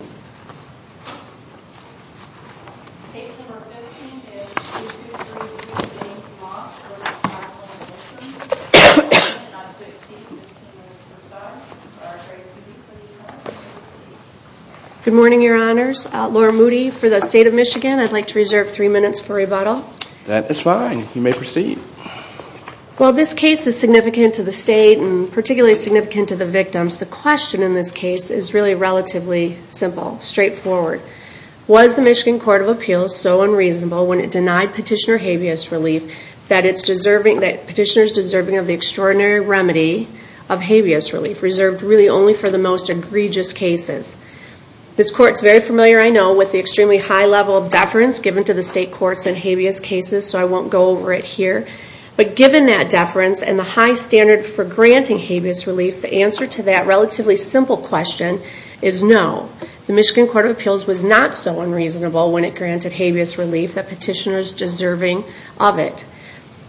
Good morning, your honors. Laura Moody for the state of Michigan. I'd like to reserve three minutes for rebuttal. That is fine. You may proceed. Well, this case is significant to the state and particularly significant to the victims. The question in this case is really relatively simple, straightforward. Was the Michigan Court of Appeals so unreasonable when it denied petitioner habeas relief that it's deserving, that petitioner's deserving of the extraordinary remedy of habeas relief reserved really only for the most egregious cases? This court's very familiar, I know, with the extremely high level of deference given to the state courts in habeas cases, so I won't go over it here. But given that deference and the high standard for granting habeas relief, the answer to that relatively simple question is no. The Michigan Court of Appeals was not so unreasonable when it granted habeas relief that petitioner's deserving of it.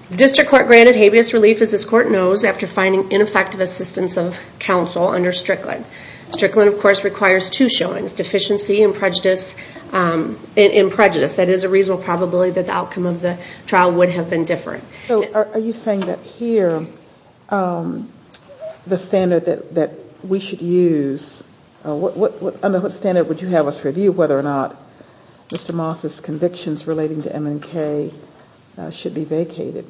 The district court granted habeas relief as this court knows after finding ineffective assistance of counsel under Strickland. Strickland, of course, requires two showings, deficiency and prejudice. That is a reasonable probability that the outcome of the trial would have been different. Are you saying that here the standard that we should use, what standard would you have us review whether or not Mr. Moss's convictions relating to M&K should be vacated?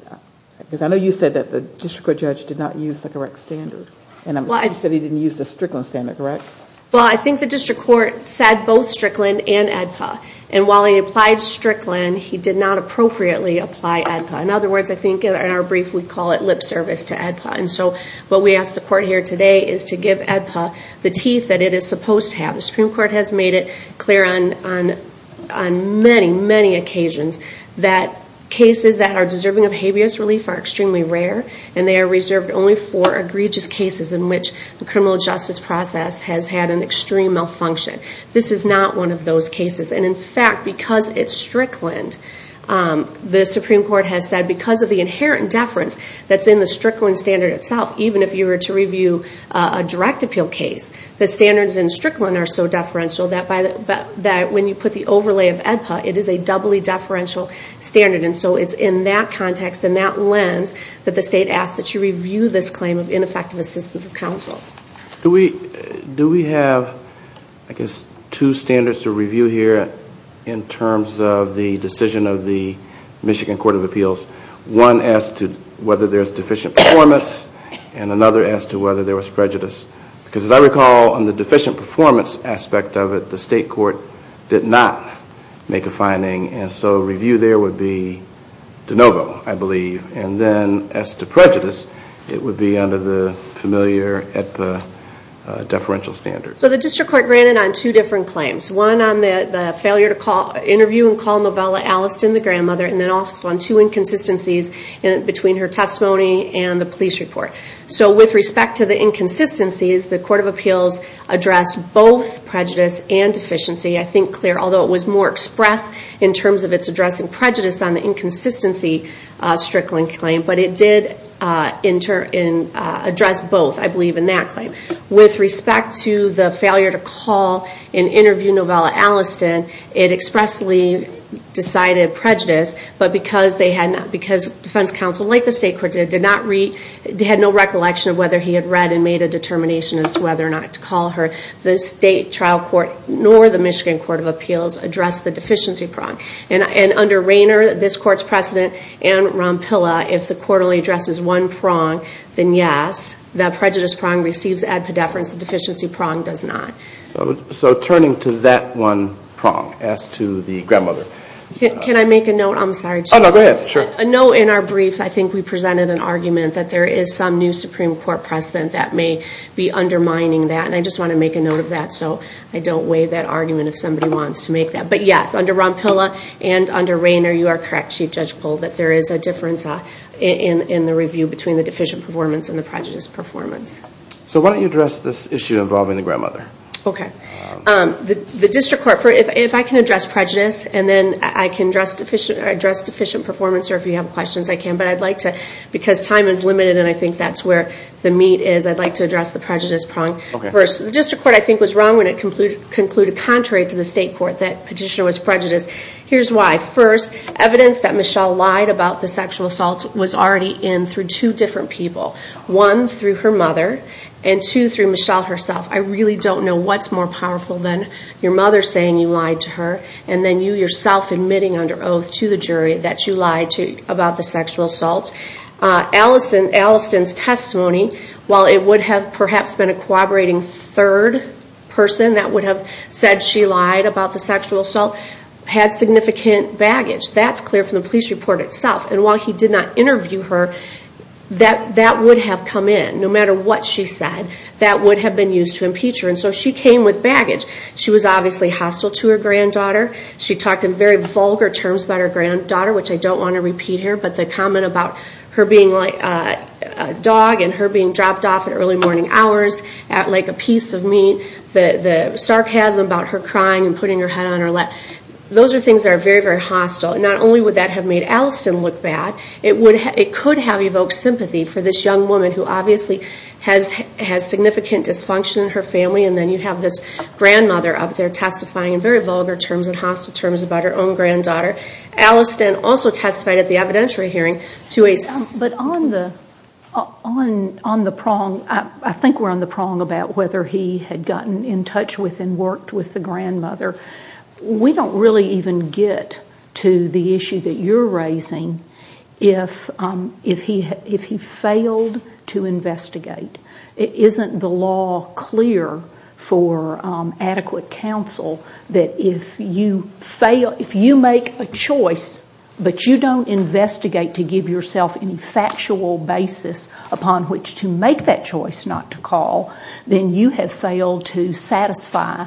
Because I know you said that the district court judge did not use the correct standard, and you said he didn't use the Strickland standard, correct? Well, I think the district court said both Strickland and AEDPA, and while he applied Strickland, he did not appropriately apply AEDPA. In other words, I think in our court here today is to give AEDPA the teeth that it is supposed to have. The Supreme Court has made it clear on many, many occasions that cases that are deserving of habeas relief are extremely rare, and they are reserved only for egregious cases in which the criminal justice process has had an extreme malfunction. This is not one of those cases. In fact, because it's Strickland, the Supreme Court has said because of the inherent deference that's in the Strickland standard itself, even if you were to review a direct appeal case, the standards in Strickland are so deferential that when you put the overlay of AEDPA, it is a doubly deferential standard, and so it's in that context and that lens that the state asks that you review this claim of ineffective assistance of counsel. Do we have, I guess, two standards to review here in terms of the decision of the Michigan Court of Appeals? One as to whether there's deficient performance, and another as to whether there was prejudice. Because as I recall, on the deficient performance aspect of it, the state court did not make a finding, and so review there would be de novo, I believe. And then as to prejudice, it would be under the familiar AEDPA deferential standards. So the district court granted on two different claims. One on the failure to interview and the inconsistencies between her testimony and the police report. So with respect to the inconsistencies, the Court of Appeals addressed both prejudice and deficiency. I think, Claire, although it was more expressed in terms of its addressing prejudice on the inconsistency Strickland claim, but it did address both, I believe, in that claim. With respect to the failure to call and interview Novella Alliston, it expressly decided prejudice, but because defense counsel, like the state court did, had no recollection of whether he had read and made a determination as to whether or not to call her, the state trial court nor the Michigan Court of Appeals addressed the deficiency prong. And under Rayner, this court's precedent, and Rompilla, if the court only addresses one prong, then yes, that prejudice prong receives AEDPA deference, the deficiency prong does not. So turning to that one prong as to the grandmother. Can I make a note? I'm sorry, Chair. Oh, no, go ahead. Sure. A note in our brief, I think we presented an argument that there is some new Supreme Court precedent that may be undermining that, and I just want to make a note of that so I don't waive that argument if somebody wants to make that. But yes, under Rompilla and under Rayner, you are correct, Chief Judge Pohl, that there is a difference in the review between the deficient performance and the prejudice performance. So why don't you address this issue involving the grandmother? Okay. The district court, if I can address prejudice and then I can address deficient performance, or if you have questions, I can, but I'd like to, because time is limited and I think that's where the meat is, I'd like to address the prejudice prong. First, the district court I think was wrong when it concluded, contrary to the state court, that petitioner was prejudiced. Here's why. First, evidence that Michelle lied about the sexual assault was already in through two different people. One, through her mother, and two, through the jury. You don't know what's more powerful than your mother saying you lied to her and then you yourself admitting under oath to the jury that you lied about the sexual assault. Alliston's testimony, while it would have perhaps been a corroborating third person that would have said she lied about the sexual assault, had significant baggage. That's clear from the police report itself. And while he did not interview her, that would have come in. No matter what she said, that would have been used to impeach her. And so she came with baggage. She was obviously hostile to her granddaughter. She talked in very vulgar terms about her granddaughter, which I don't want to repeat here, but the comment about her being a dog and her being dropped off at early morning hours at like a piece of meat, the sarcasm about her crying and putting her head on her lap, those are things that are very, very hostile. And not only would that have made Alliston look bad, it could have evoked sympathy for this young woman who obviously has significant dysfunction in her family and then you have this grandmother out there testifying in very vulgar terms and hostile terms about her own granddaughter. Alliston also testified at the evidentiary hearing to a... But on the prong, I think we're on the prong about whether he had gotten in touch with and worked with the grandmother. We don't really even get to the issue that you're raising if he failed to investigate. Isn't the law clear for adequate counsel that if you fail, if you make a choice but you don't investigate to give yourself any factual basis upon which to make that choice not to call, then you have failed to satisfy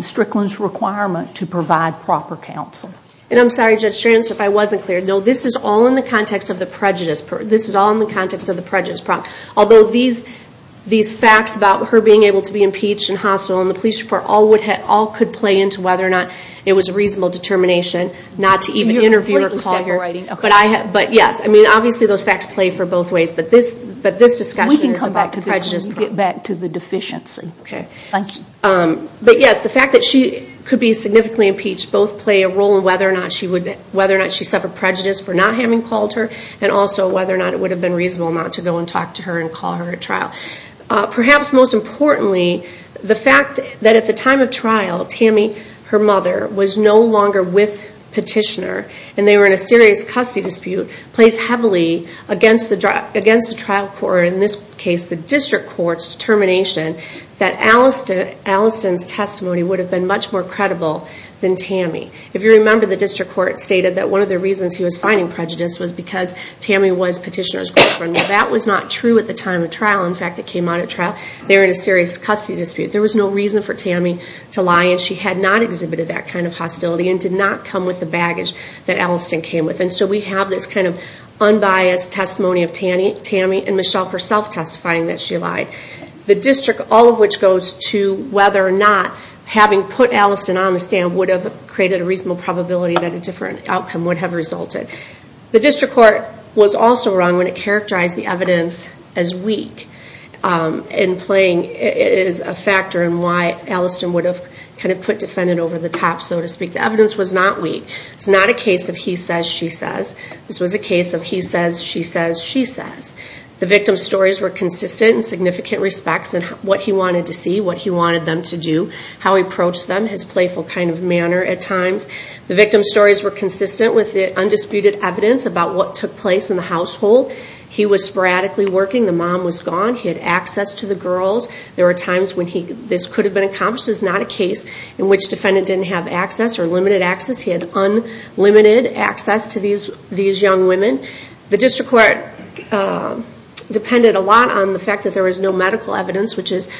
Strickland's requirement to provide proper counsel? And I'm sorry Judge Stranst, if I wasn't clear. No, this is all in the context of the prejudice problem. Although these facts about her being able to be impeached and hostile in the police report all could play into whether or not it was a reasonable determination not to even interview or call here. But yes, I mean obviously those facts play for both ways, but this discussion is about the prejudice problem. We can come back to this when we get back to the deficiency. But yes, the fact that she could be significantly impeached both play a role in whether or not she suffered prejudice for not having called her, and also whether or not it would have been reasonable not to go and talk to her and call her at trial. Perhaps most importantly, the fact that at the time of trial, Tammy, her mother, was no longer with Petitioner and they were in a serious custody dispute plays heavily against the trial court, or that Alliston's testimony would have been much more credible than Tammy. If you remember, the district court stated that one of the reasons he was finding prejudice was because Tammy was Petitioner's girlfriend. Now that was not true at the time of trial. In fact, it came out at trial. They were in a serious custody dispute. There was no reason for Tammy to lie and she had not exhibited that kind of hostility and did not come with the baggage that Alliston came with. And so we have this kind of unbiased testimony of Tammy and Michelle herself testifying that she lied. The district, all of which goes to whether or not having put Alliston on the stand would have created a reasonable probability that a different outcome would have resulted. The district court was also wrong when it characterized the evidence as weak. In playing, it is a factor in why Alliston would have kind of put defendant over the top, so to speak. The evidence was not weak. It's not a case of he says, she says, she says. The victim's stories were consistent in significant respects in what he wanted to see, what he wanted them to do, how he approached them, his playful kind of manner at times. The victim's stories were consistent with the undisputed evidence about what took place in the household. He was sporadically working. The mom was gone. He had access to the girls. There were times when this could have been accomplished. It's not a case in which defendant didn't have access or limited access. He had unlimited access to these young women. The district court depended a lot on the fact that there was no medical evidence, which is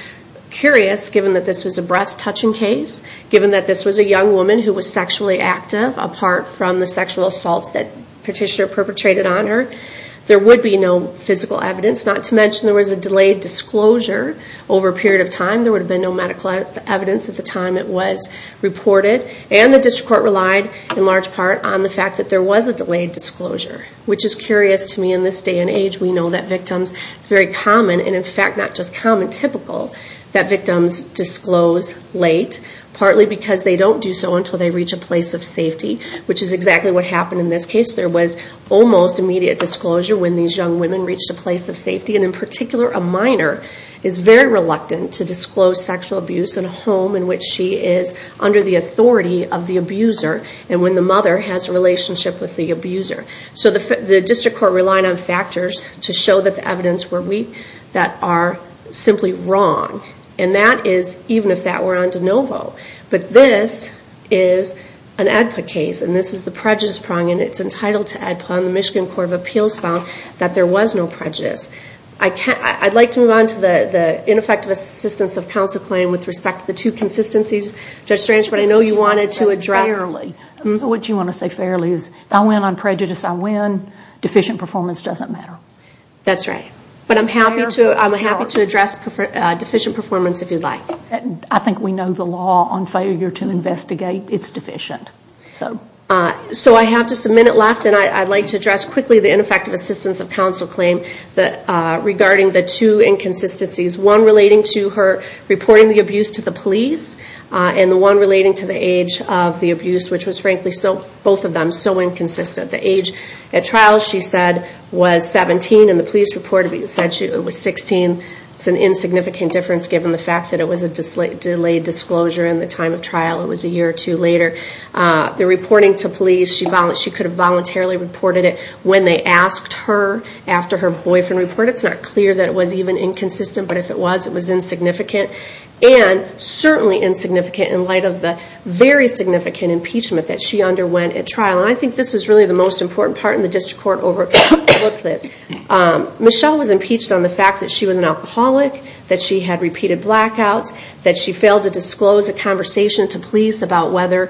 curious given that this was a breast touching case, given that this was a young woman who was sexually active apart from the sexual assaults that petitioner perpetrated on her. There would be no physical evidence, not to mention there was a delayed disclosure over a period of time. There would have been no medical evidence at the time it was reported. And the district court relied in large part on the fact that there was a delayed disclosure, which is curious to me in this day and age. We know that victims, it's very common and in fact not just common, typical, that victims disclose late, partly because they don't do so until they reach a place of safety, which is exactly what happened in this case. There was almost immediate disclosure when these young women reached a place of safety. And in particular, a minor is very reluctant to disclose sexual abuse in a home in which she is under the authority of the abuser. And when the mother has a relationship with the abuser. So the district court relied on factors to show that the evidence were weak that are simply wrong. And that is, even if that were on de novo. But this is an AEDPA case and this is the prejudice prong and it's entitled to AEDPA and the Michigan Court of Appeals found that there was no prejudice. I'd like to move on to the ineffective assistance of counsel claim with respect to the two consistencies. Judge Strange, but I know you wanted to address. Fairly. What you want to say fairly is if I win on prejudice, I win. Deficient performance doesn't matter. That's right. But I'm happy to address deficient performance if you'd like. I think we know the law on failure to investigate, it's deficient. So I have just a minute left and I'd like to address quickly the ineffective assistance of counsel claim regarding the two inconsistencies. One relating to her reporting the abuse to the police and the one relating to the age of the abuse, which was frankly both of them so inconsistent. The age at trial, she said, was 17 and the police reported it was 16. It's an insignificant difference given the fact that it was a delayed disclosure in the time of trial. It was a year or two later. The reporting to police, she could have voluntarily reported it when they asked her after her boyfriend reported. It's not clear that it was even inconsistent, but if it was, it was insignificant. And certainly insignificant in light of the very significant impeachment that she underwent at trial. I think this is really the most important part in the district court overlook list. Michelle was impeached on the fact that she was an alcoholic, that she had repeated blackouts, that she failed to disclose a conversation to police about whether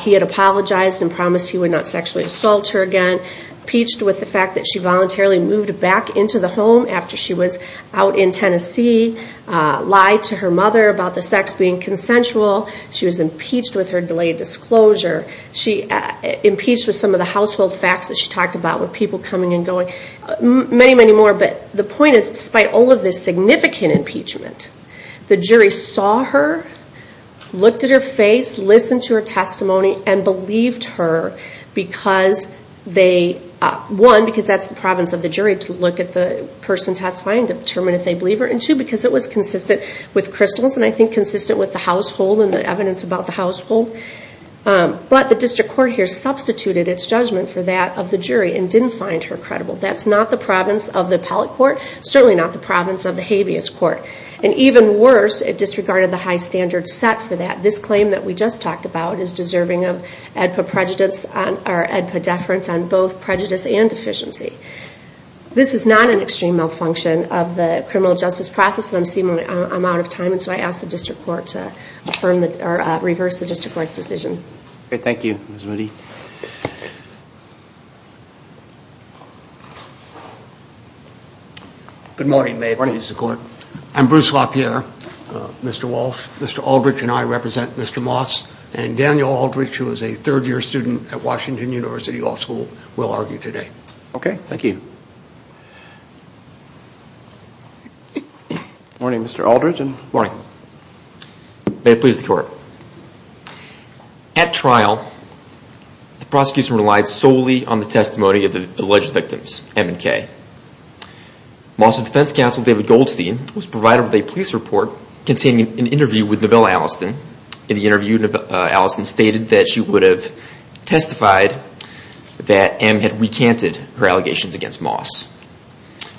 he had apologized and promised he would not sexually assault her again. Impeached with the fact that she out in Tennessee lied to her mother about the sex being consensual. She was impeached with her delayed disclosure. She impeached with some of the household facts that she talked about with people coming and going. Many, many more, but the point is despite all of this significant impeachment, the jury saw her, looked at her face, listened to her testimony and believed her because they, one, because that's the province of the jury to look at the person testifying to determine if they believe her, and two, because it was consistent with crystals and I think consistent with the household and the evidence about the household. But the district court here substituted its judgment for that of the jury and didn't find her credible. That's not the province of the appellate court, certainly not the province of the habeas court. And even worse, it disregarded the high standard set for that. This claim that we just talked about is deserving of AEDPA prejudice or AEDPA deference on both prejudice and deficiency. This is not an extreme malfunction of the criminal justice process and I'm out of time, so I ask the district court to reverse the district court's decision. Okay, thank you, Ms. Moody. Good morning, ma'am. Good morning, Mr. Court. I'm Bruce LaPierre, Mr. Walsh, Mr. Aldrich, and I represent Mr. Moss and Daniel Aldrich, who is a third year student at Washington University Law School, will argue today. Okay, thank you. Good morning, Mr. Aldrich. Good morning. May it please the court. At trial, the prosecution relied solely on the testimony of the alleged victims, M and K. Moss's defense counsel, David Goldstein, was provided with a police report containing an interview with Novella Alliston. In the interview, Alliston stated that she would have testified that M had recanted her allegations against Moss,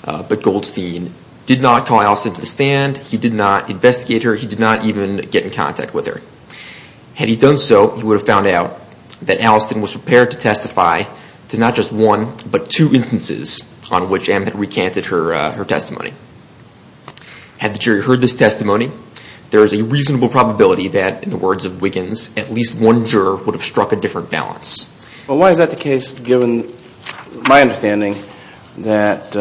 but Goldstein did not call Alliston to the stand. He did not investigate her. He did not even get in contact with her. Had he done so, he would have found out that Alliston was prepared to testify to not just one, but two instances on which M had recanted her testimony. Had the jury heard this testimony, there is a reasonable probability that, in the words of Wiggins, at least one juror would have struck a different balance. Well, why is that the case, given my understanding that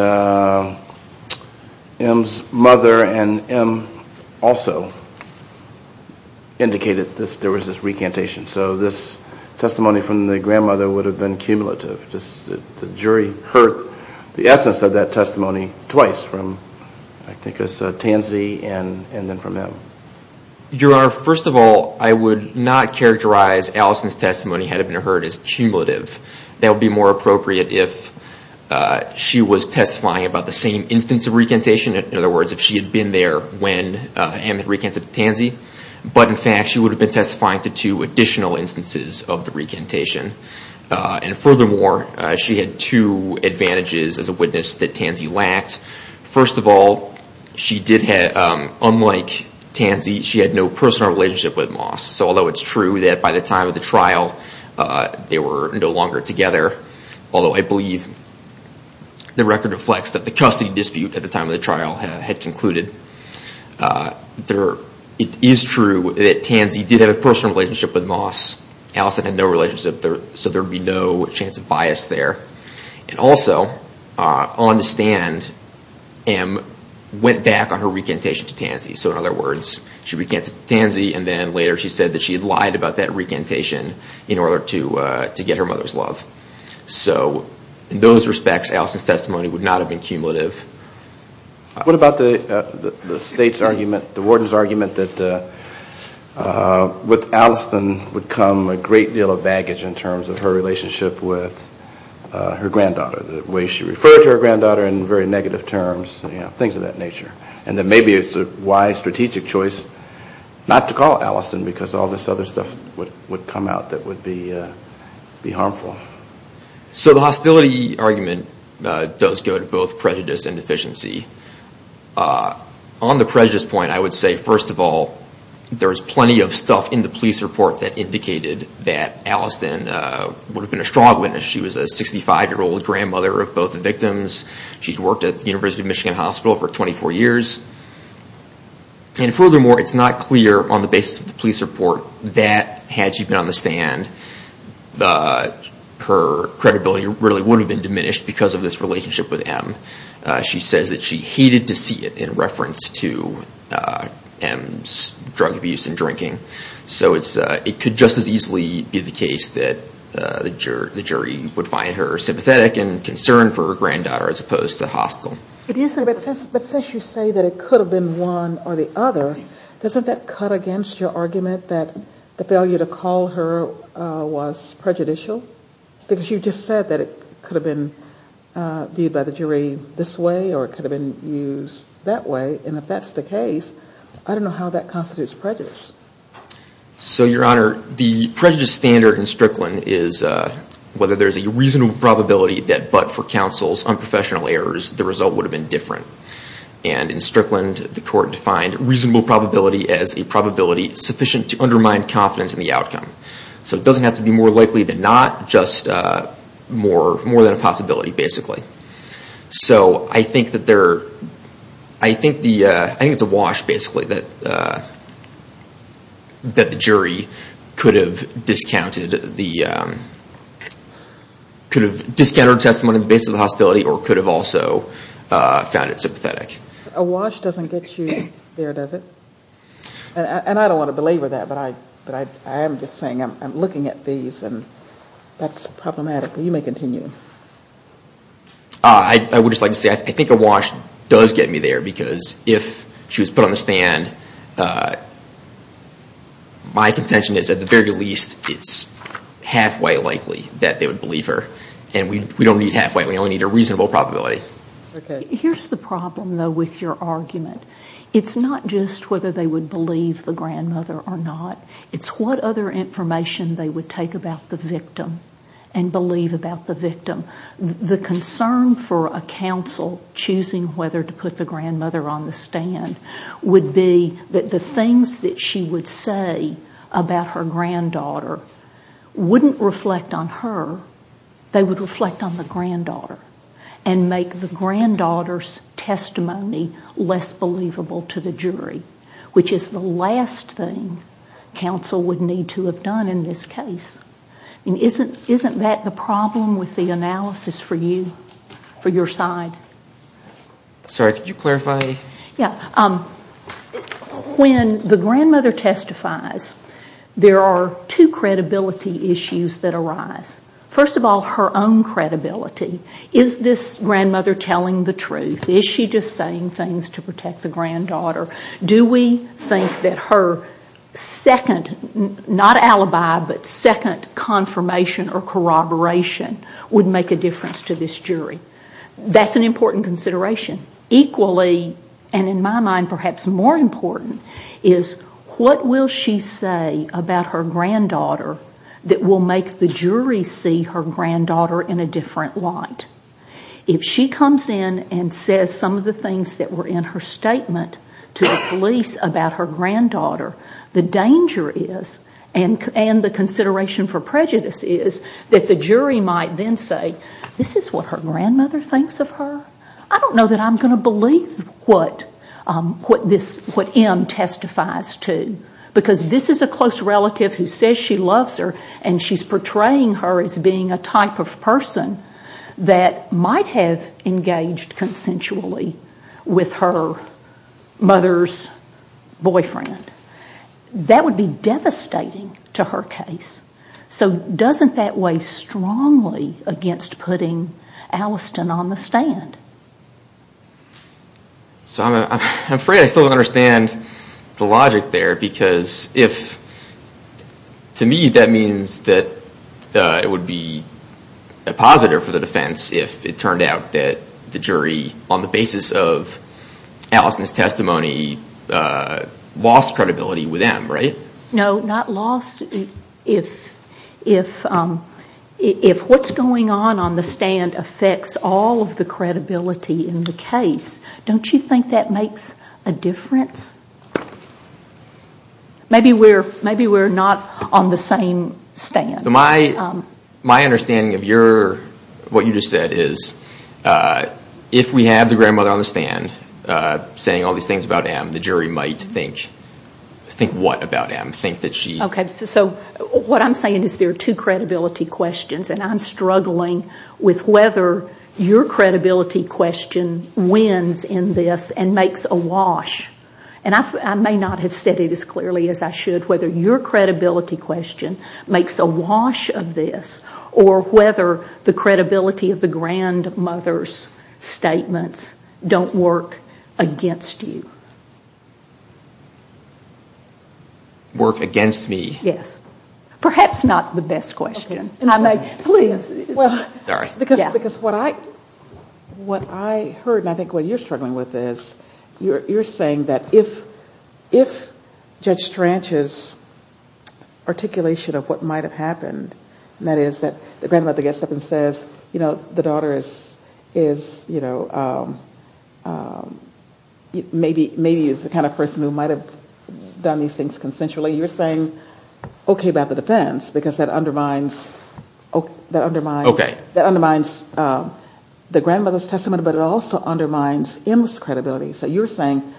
M's mother and M also indicated there was this recantation? So this testimony from the grandmother would have been cumulative. The jury heard the essence of that testimony twice, from I think it was Tansey and then from M. Your Honor, first of all, I would not characterize Alliston's testimony had it been heard as cumulative. That would be more appropriate if she was testifying about the same instance of recantation. In other words, if she had been there when M had recanted to Tansey. But in fact, she would have been testifying to two additional instances of the recantation. And furthermore, she had two advantages as a witness that Tansey lacked. First of all, she did have, unlike Tansey, she had no personal relationship with Moss. So although it's true that by the time of the trial, they were no longer together, although I believe the record reflects that the custody dispute at the time of the trial had concluded. It is true that Tansey did have a personal relationship with Moss. Allison had no relationship, so there would be no chance of bias there. And also, on the stand, M went back on her recantation to Tansey. So in other words, she recanted to Tansey and then later she said that she had lied about that recantation in order to get her mother's love. So in those respects, Alliston's testimony would not have been cumulative. What about the state's argument, the warden's argument that with Alliston would come a great deal of baggage in terms of her relationship with her granddaughter, the way she referred to her granddaughter in very negative terms, things of that nature. And that maybe it's a wise strategic choice not to call Alliston because all this other stuff would come out that would be harmful. So the hostility argument does go to both prejudice and deficiency. On the prejudice point, I would say first of all, there's plenty of stuff in the police report that indicated that Alliston would have been a strong witness. She was a 65-year-old grandmother of both the victims. She's worked at the University of Michigan Hospital for 24 years. And furthermore, it's not clear on the basis of the police report that had she been on the stand, her credibility really would have been diminished because of this relationship with M. She says that she hated to see it in reference to M's drug abuse and drinking. So it could just as easily be the case that the jury would find her sympathetic and concerned for her granddaughter as opposed to hostile. But since you say that it could have been one or the other, doesn't that cut against your argument that the failure to call her was prejudicial? Because you just said that it could have been viewed by the jury this way or it could have been used that way. And if that's the case, I don't know how that constitutes prejudice. So, Your Honor, the prejudice standard in Strickland is whether there's a reasonable probability that but for counsel's unprofessional errors, the result would have been different. And in Strickland, the court defined reasonable probability as a probability sufficient to undermine confidence in the outcome. So it doesn't have to be more likely than not, just more than a possibility, basically. So I think it's a wash, basically, that the jury could have discounted her testimony on the basis of hostility or could have also found it sympathetic. A wash doesn't get you there, does it? And I don't want to belabor that, but I am just I would just like to say, I think a wash does get me there because if she was put on the stand, my contention is, at the very least, it's halfway likely that they would believe her. And we don't need halfway. We only need a reasonable probability. Here's the problem, though, with your argument. It's not just whether they would believe the grandmother or not. It's what other information they would take about the victim and believe about the victim. The concern for a counsel choosing whether to put the grandmother on the stand would be that the things that she would say about her granddaughter wouldn't reflect on her. They would reflect on the granddaughter and make the granddaughter's believable to the jury, which is the last thing counsel would need to have done in this case. Isn't that the problem with the analysis for you, for your side? Sorry, could you clarify? When the grandmother testifies, there are two credibility issues that arise. First of all, her own credibility. Is this grandmother telling the truth? Is she just saying things to protect the granddaughter? Do we think that her second, not alibi, but second confirmation or corroboration would make a difference to this jury? That's an important consideration. Equally, and in my mind perhaps more important, is what will she say about her granddaughter that will make the jury see her granddaughter in a different light? If she comes in and says some of the things that were in her statement to the police about her granddaughter, the danger is, and the consideration for prejudice is, that the jury might then say, this is what her grandmother thinks of her? I don't know that I'm going to believe what M testifies to. Because this is a close relative who says she loves her and she's portraying her as being a type of person that might have engaged consensually with her mother's boyfriend. That would be devastating to her case. So doesn't that weigh strongly against putting Alliston on the stand? I'm afraid I still don't understand the logic there. Because to me that means that it would be a positive for the defense if it turned out that the jury, on the basis of Alliston's testimony, lost credibility with M, right? No, not lost. If what's going on on the stand affects all of the credibility in the case, don't you think that makes a difference? Maybe we're not on the same stand. My understanding of what you just said is, if we have the grandmother on the stand saying all these things about M, the jury might think what about M? What I'm saying is there are two credibility questions and I'm struggling with whether your credibility question wins in this and makes a wash. I may not have said it as clearly as I should. Whether your credibility question makes a wash of this or whether the credibility of the grandmother's statements don't work against you. Yes. Perhaps not the best question. Because what I heard, and I think what you're struggling with, is you're saying that if Judge Stranch's articulation of what might have happened, that is that the grandmother gets up and says, you know, the daughter is, you know, maybe is the kind of person who might have done these things consensually. You're saying okay about the defense, because that undermines the grandmother's testimony, but it also undermines M's credibility. So you're saying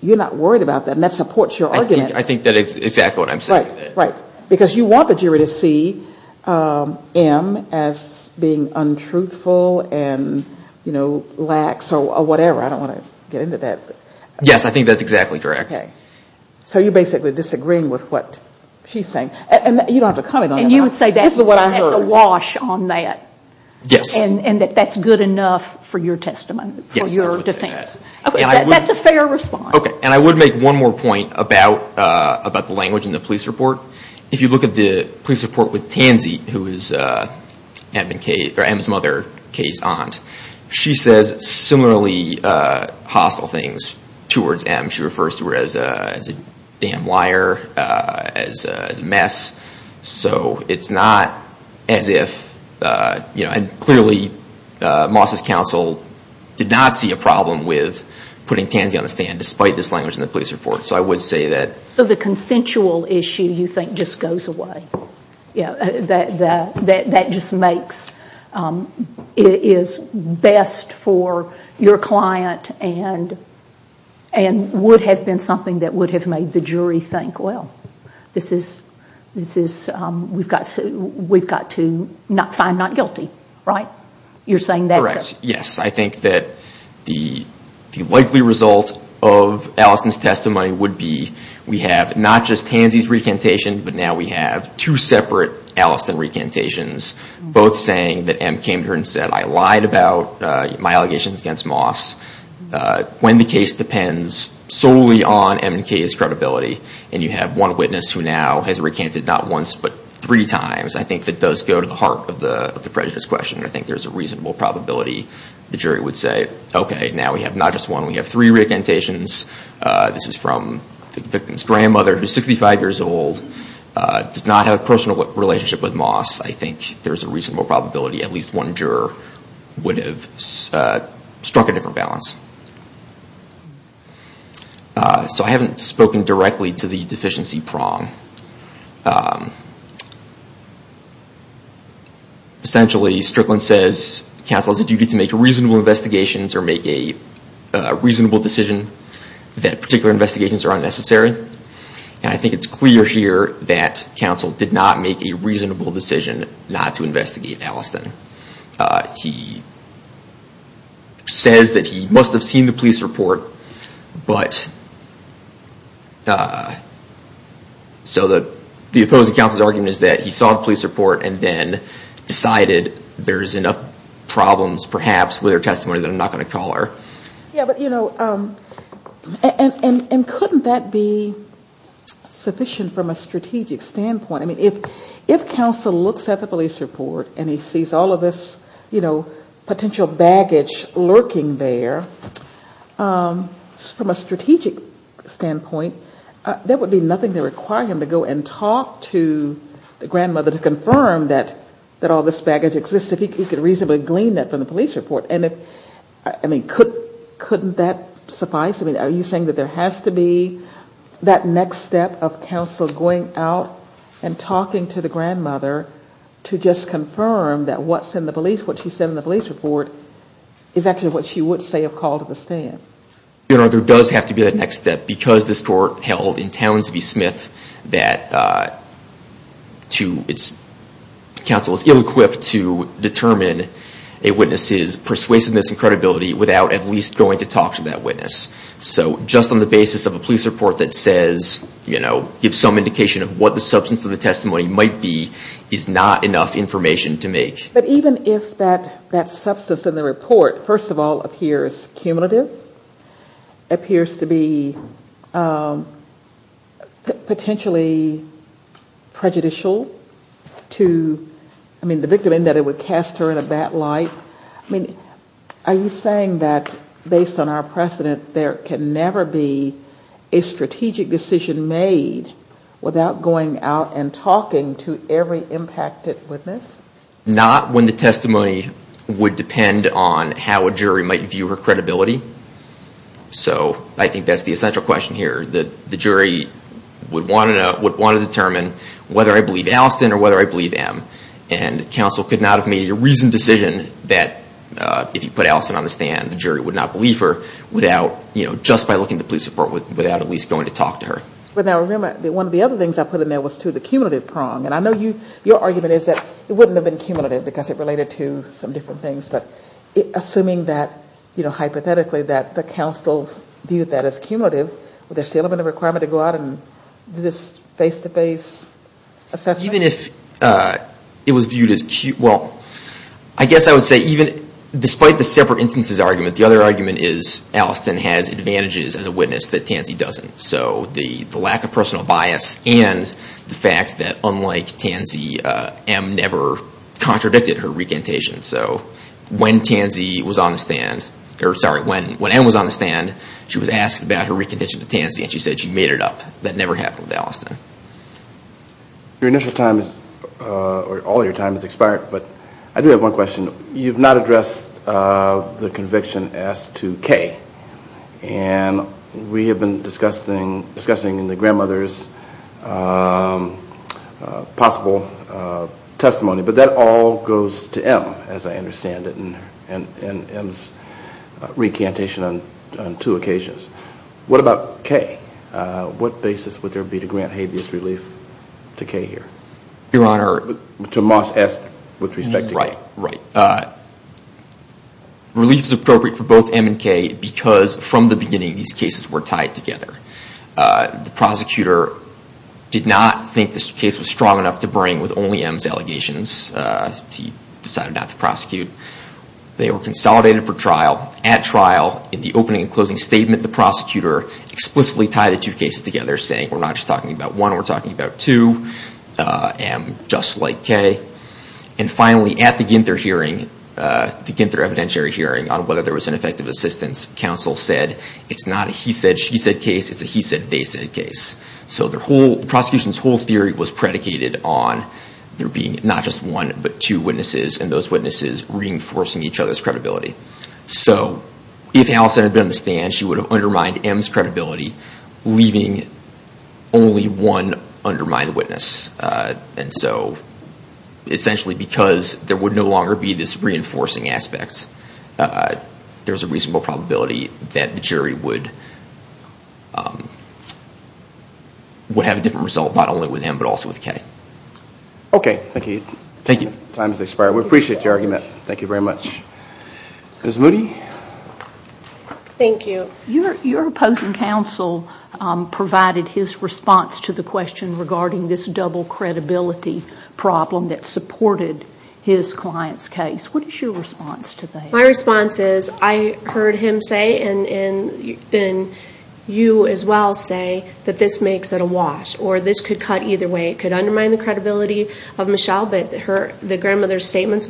you're not worried about that, and that supports your argument. I think that's exactly what I'm saying. Right. Because you want the jury to see M as being untruthful and, you know, lax or whatever. I don't want to get into that. Yes, I think that's exactly correct. So you're basically disagreeing with what she's saying. And you don't have to comment on that. And you would say that's what I heard. There's a wash on that. And that that's good enough for your testimony, for your defense. That's a fair response. Okay, and I would make one more point about the language in the police report. If you look at the police report with Tansy, who is M's mother, K's aunt. She says similarly hostile things towards M. She refers to her as a damn liar, as a mess. So it's not as if, you know, and clearly Moss's counsel did not see a problem with putting Tansy on the stand, despite this language in the police report. So I would say that. So the consensual issue, you think, just goes away. That just makes, it is best for your client and would have been something that would have made the jury think, well, this is, this is not a good thing. This is, we've got to, we've got to find not guilty, right? You're saying that. Yes, I think that the likely result of Allison's testimony would be, we have not just Tansy's recantation, but now we have two separate Allison recantations. Both saying that M came to her and said, I lied about my allegations against Moss. When the case depends solely on M and K's credibility, and you have one witness who now has recanted not once, but three times, I think that does go to the heart of the prejudice question. I think there's a reasonable probability the jury would say, okay, now we have not just one, we have three recantations. This is from the victim's grandmother, who's 65 years old, does not have a personal relationship with Moss. I think there's a reasonable probability at least one juror would have struck a different balance. So I haven't spoken directly to the deficiency prong. Essentially, Strickland says counsel has a duty to make reasonable investigations or make a reasonable decision that particular investigations are unnecessary. And I think it's clear here that counsel did not make a reasonable decision not to investigate Allison. He says that he must have seen the police report. So the opposing counsel's argument is that he saw the police report and then decided there's enough problems perhaps with her testimony that I'm not going to call her. Yeah, but you know, and couldn't that be sufficient from a strategic standpoint? I mean, if counsel looks at the police report and he sees all of this, you know, potential baggage lurking there, from a strategic standpoint, there would be nothing to require him to go and talk to the grandmother to confirm that all this baggage exists, if he could reasonably glean that from the police report. And if, I mean, couldn't that suffice? I mean, are you saying that there has to be that next step of counsel going out and talking to the grandmother to just confirm that what's in the police, what she said in the police report, is actually what she would say a call to the stand? You know, there does have to be that next step, because this court held in Townsville Smith that to its counsel is ill-equipped to determine a witness's perspective. It's wasting this credibility without at least going to talk to that witness. So just on the basis of a police report that says, you know, gives some indication of what the substance of the testimony might be, is not enough information to make. But even if that substance in the report, first of all, appears cumulative, appears to be potentially prejudicial to, I mean, the victim in that it would cast her in a bad light. Are you saying that based on our precedent, there can never be a strategic decision made without going out and talking to every impacted witness? Not when the testimony would depend on how a jury might view her credibility. So I think that's the essential question here. The jury would want to determine whether I believe Allison or whether I believe Em. And counsel could not have made a reasoned decision that if you put Allison on the stand, the jury would not believe her without, you know, just by looking at the police report without at least going to talk to her. But now remember, one of the other things I put in there was to the cumulative prong. And I know your argument is that it wouldn't have been cumulative because it related to some different things. But assuming that, you know, hypothetically that the counsel viewed that as cumulative, would there still have been a requirement to go out and do this face-to-face assessment? Even if it was viewed as, well, I guess I would say even despite the separate instances argument, the other argument is Allison has advantages as a witness that Tansy doesn't. So the lack of personal bias and the fact that unlike Tansy, Em never contradicted her recantation. So when Tansy was on the stand, or sorry, when Em was on the stand, she was asked about her recantation to Tansy and she said she made it up. That never happened with Allison. Your initial time or all your time has expired, but I do have one question. You've not addressed the conviction as to Kay. And we have been discussing the grandmother's possible testimony. But that all goes to Em, as I understand it, and Em's recantation on two occasions. What about Kay? What basis would there be to grant habeas relief to Kay here? Your Honor. Relief is appropriate for both Em and Kay because from the beginning these cases were tied together. The prosecutor did not think this case was strong enough to bring with only Em's allegations. He decided not to prosecute. They were consolidated for trial. At trial, in the opening and closing statement, the prosecutor explicitly tied the two cases together, saying we're not just talking about one, we're talking about two. Em, just like Kay. And finally, at the Ginther hearing, the Ginther evidentiary hearing, on whether there was an effective assistance, counsel said it's not a he said, she said case, it's a he said, they said case. So the prosecution's whole theory was predicated on there being not just one, but two witnesses, and those witnesses reinforcing each other's credibility. So if Allison had been on the stand, she would have undermined Em's credibility, leaving only one undermined witness. And so essentially because there would no longer be this reinforcing aspect, there's a reasonable probability that the jury would have a different result, not only with Em, but also with Kay. Okay. Thank you. Time has expired. We appreciate your argument. Thank you very much. Ms. Moody? Thank you. Ms. Moody? Ms. Moody? Ms. Moody? Ms. Moody? Ms. Moody? Ms. Moody? Ms. Moody? Ms. Moody? Ms. Moody? Ms. Moody? Ms. Moody? Ms. Moody? Ms. Moody? Ms. Moody? Ms. Moody? Ms. Moody? Ms. Moody? Ms. Moody? Ms. Moody? Ms. Moody? Ms. Moody?